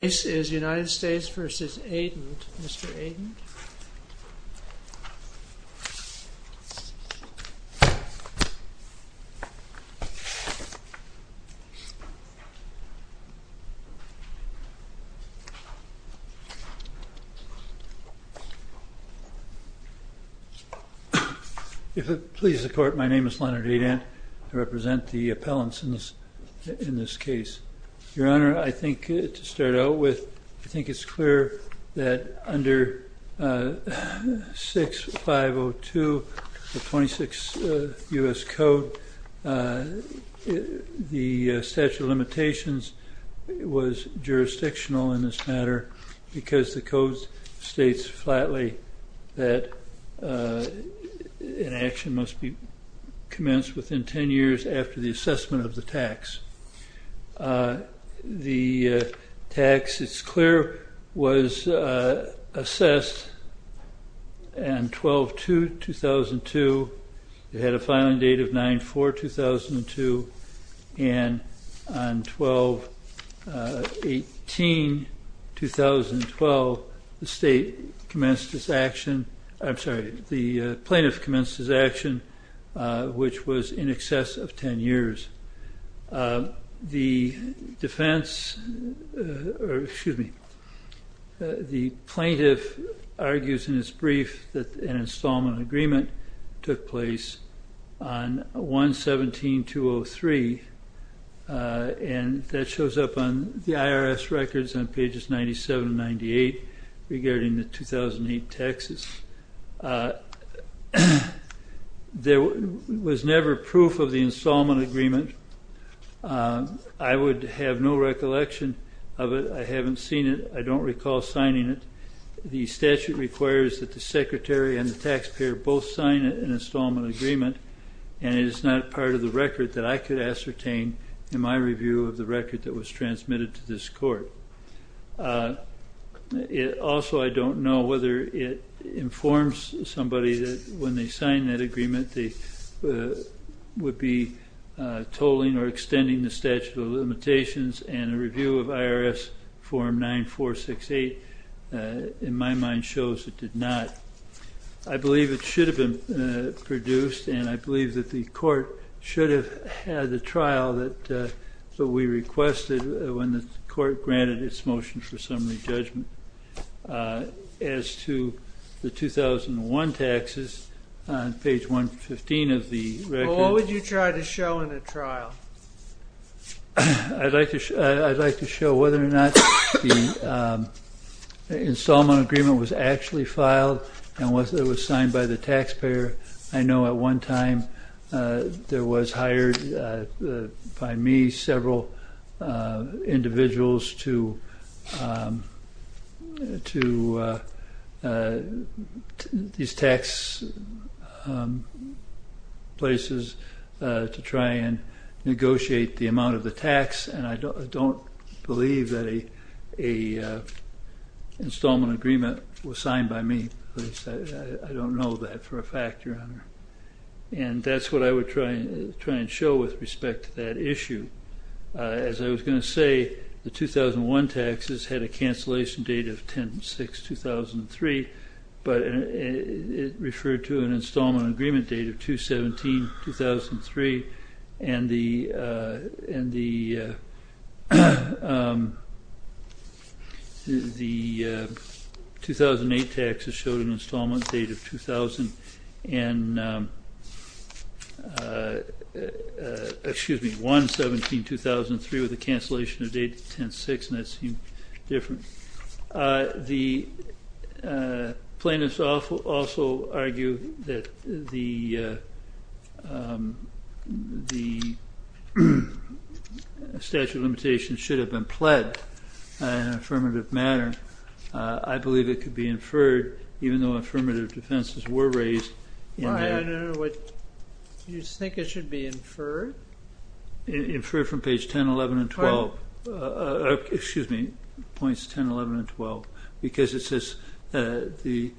This is United States v. Adent, Mr. Adent. If it pleases the Court, my name is Leonard Adent. I represent the appellants in this case. Your Honor, I think to start out with, I think it's clear that under 6502 of 26 U.S. Code, the statute of limitations was jurisdictional in this matter because the code states flatly that an action must be commenced within 10 years after the assessment of the tax. The tax, it's clear, was assessed on 12-2-2002. It had a filing date of 9-4-2002, and on 12-18-2012, the plaintiff commenced his action, which was in excess of 10 years. The defense, or excuse me, the plaintiff argues in his brief that an installment agreement took place on 117-203, and that shows up on the IRS records on pages 97 and 98 regarding the 2008 taxes. There was never proof of the installment agreement. I would have no recollection of it. I haven't seen it. I don't recall signing it. The statute requires that the secretary and the taxpayer both sign an installment agreement, and it is not part of the record that I could ascertain in my review of the record that was transmitted to this Court. Also, I don't know whether it informs somebody that when they sign that agreement, they would be tolling or extending the statute of limitations, and a review of IRS Form 9468, in my mind, shows it did not. I believe it should have been produced, and I believe that the Court should have had the trial that we requested when the Court granted its motion for summary judgment. As to the 2001 taxes, on page 115 of the record... Well, what would you try to show in a trial? I'd like to show whether or not the installment agreement was actually filed, and whether it was signed by the taxpayer. I know at one time there was hired by me several individuals to these tax places to try and negotiate the amount of the tax, and I don't believe that an installment agreement was signed by me. I don't know that for a fact, Your Honor. And that's what I would try and show with respect to that issue. As I was going to say, the 2001 taxes had a cancellation date of 10-6-2003, but it referred to an installment agreement date of 2-17-2003. And the 2008 taxes showed an installment date of 1-17-2003 with a cancellation date of 10-6, and that seemed different. The plaintiffs also argue that the statute of limitations should have been pled in an affirmative manner. I believe it could be inferred, even though affirmative defenses were raised in the... Your Honor, do you think it should be inferred? It should be inferred from page 10, 11, and 12. Excuse me, points 10, 11, and 12, because it says the...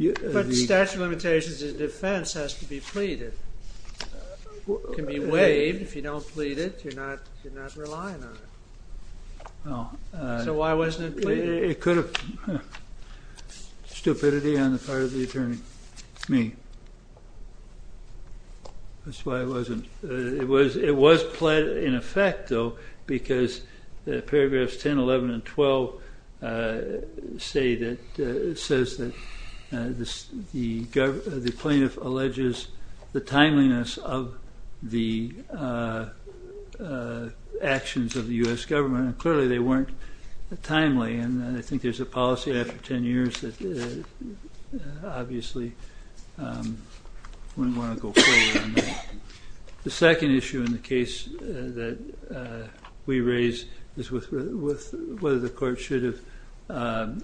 But the statute of limitations as a defense has to be pleaded. It can be waived if you don't plead it. You're not relying on it. So why wasn't it pleaded? It could have... Stupidity on the part of the attorney. Me. That's why it wasn't... It was pled in effect, though, because paragraphs 10, 11, and 12 say that... It says that the plaintiff alleges the timeliness of the actions of the U.S. government, and clearly they weren't timely. And I think there's a policy after 10 years that obviously wouldn't want to go forward on that. The second issue in the case that we raised is whether the court should have...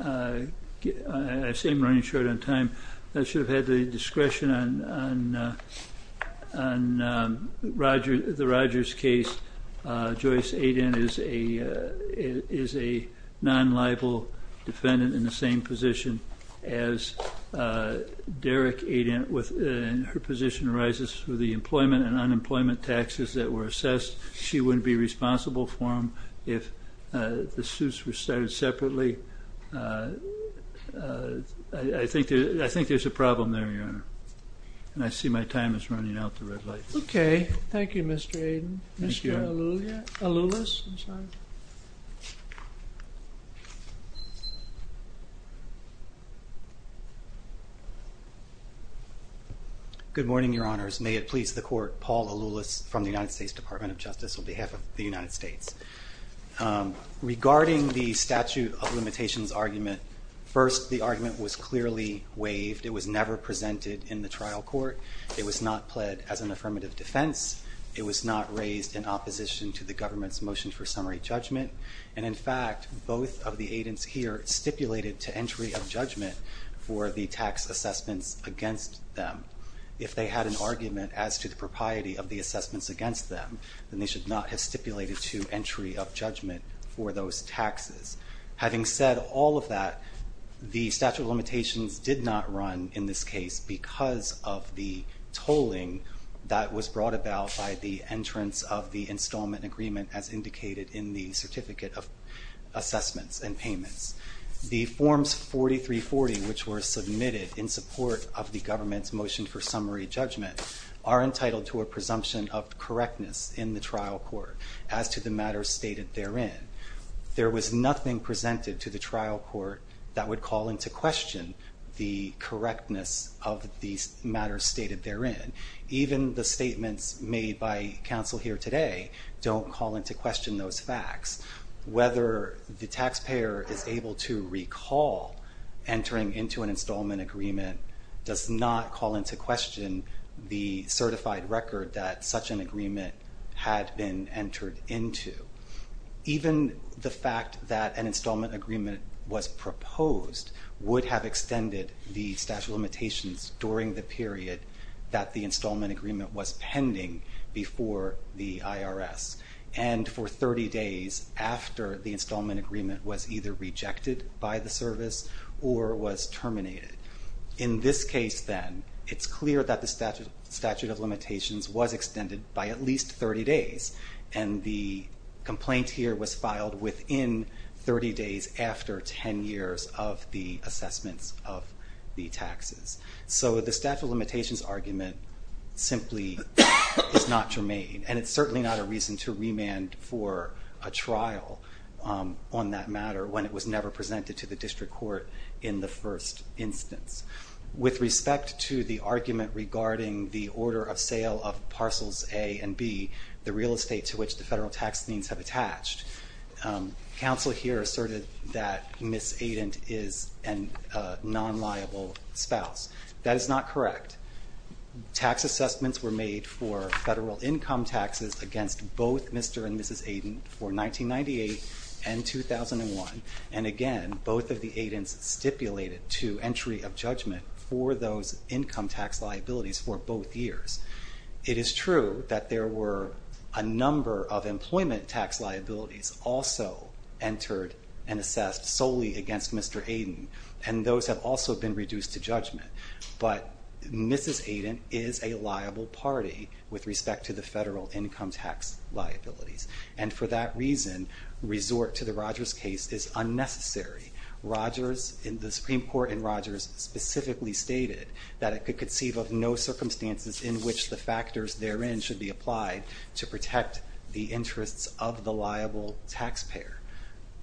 I seem to be running short on time. I should have had the discretion on the Rogers case. Joyce Aiden is a non-liable defendant in the same position as Derek Aiden, and her position arises with the employment and unemployment taxes that were assessed. She wouldn't be responsible for them if the suits were started separately. I think there's a problem there, Your Honor, and I see my time is running out. Okay. Thank you, Mr. Aiden. Thank you. Mr. Aloulus. Good morning, Your Honors. May it please the Court, Paul Aloulus from the United States Department of Justice on behalf of the United States. Regarding the statute of limitations argument, first the argument was clearly waived. It was never presented in the trial court. It was not pled as an affirmative defense. It was not raised in opposition to the government's motion for summary judgment. And, in fact, both of the agents here stipulated to entry of judgment for the tax assessments against them. If they had an argument as to the propriety of the assessments against them, then they should not have stipulated to entry of judgment for those taxes. Having said all of that, the statute of limitations did not run in this case because of the tolling that was brought about by the entrance of the installment agreement, as indicated in the certificate of assessments and payments. The Forms 4340, which were submitted in support of the government's motion for summary judgment, are entitled to a presumption of correctness in the trial court as to the matters stated therein. There was nothing presented to the trial court that would call into question the correctness of the matters stated therein. Even the statements made by counsel here today don't call into question those facts. Whether the taxpayer is able to recall entering into an installment agreement does not call into question the certified record that such an agreement had been entered into. Even the fact that an installment agreement was proposed would have extended the statute of limitations during the period that the installment agreement was pending before the IRS. And for 30 days after the installment agreement was either rejected by the service or was terminated. In this case, then, it's clear that the statute of limitations was extended by at least 30 days. And the complaint here was filed within 30 days after 10 years of the assessments of the taxes. So the statute of limitations argument simply is not germane. And it's certainly not a reason to remand for a trial on that matter when it was never presented to the district court in the first instance. With respect to the argument regarding the order of sale of parcels A and B, the real estate to which the federal tax liens have attached, counsel here asserted that Ms. Aiden is a non-liable spouse. That is not correct. Tax assessments were made for federal income taxes against both Mr. and Mrs. Aiden for 1998 and 2001. And again, both of the Aidens stipulated to entry of judgment for those income tax liabilities for both years. It is true that there were a number of employment tax liabilities also entered and assessed solely against Mr. Aiden. And those have also been reduced to judgment. But Mrs. Aiden is a liable party with respect to the federal income tax liabilities. And for that reason, resort to the Rogers case is unnecessary. The Supreme Court in Rogers specifically stated that it could conceive of no circumstances in which the factors therein should be applied to protect the interests of the liable taxpayer.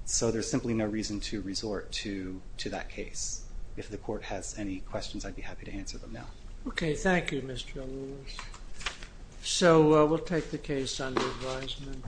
So there's simply no reason to resort to that case. If the Court has any questions, I'd be happy to answer them now. Okay. Thank you, Mr. Lewis. So we'll take the case under advisement.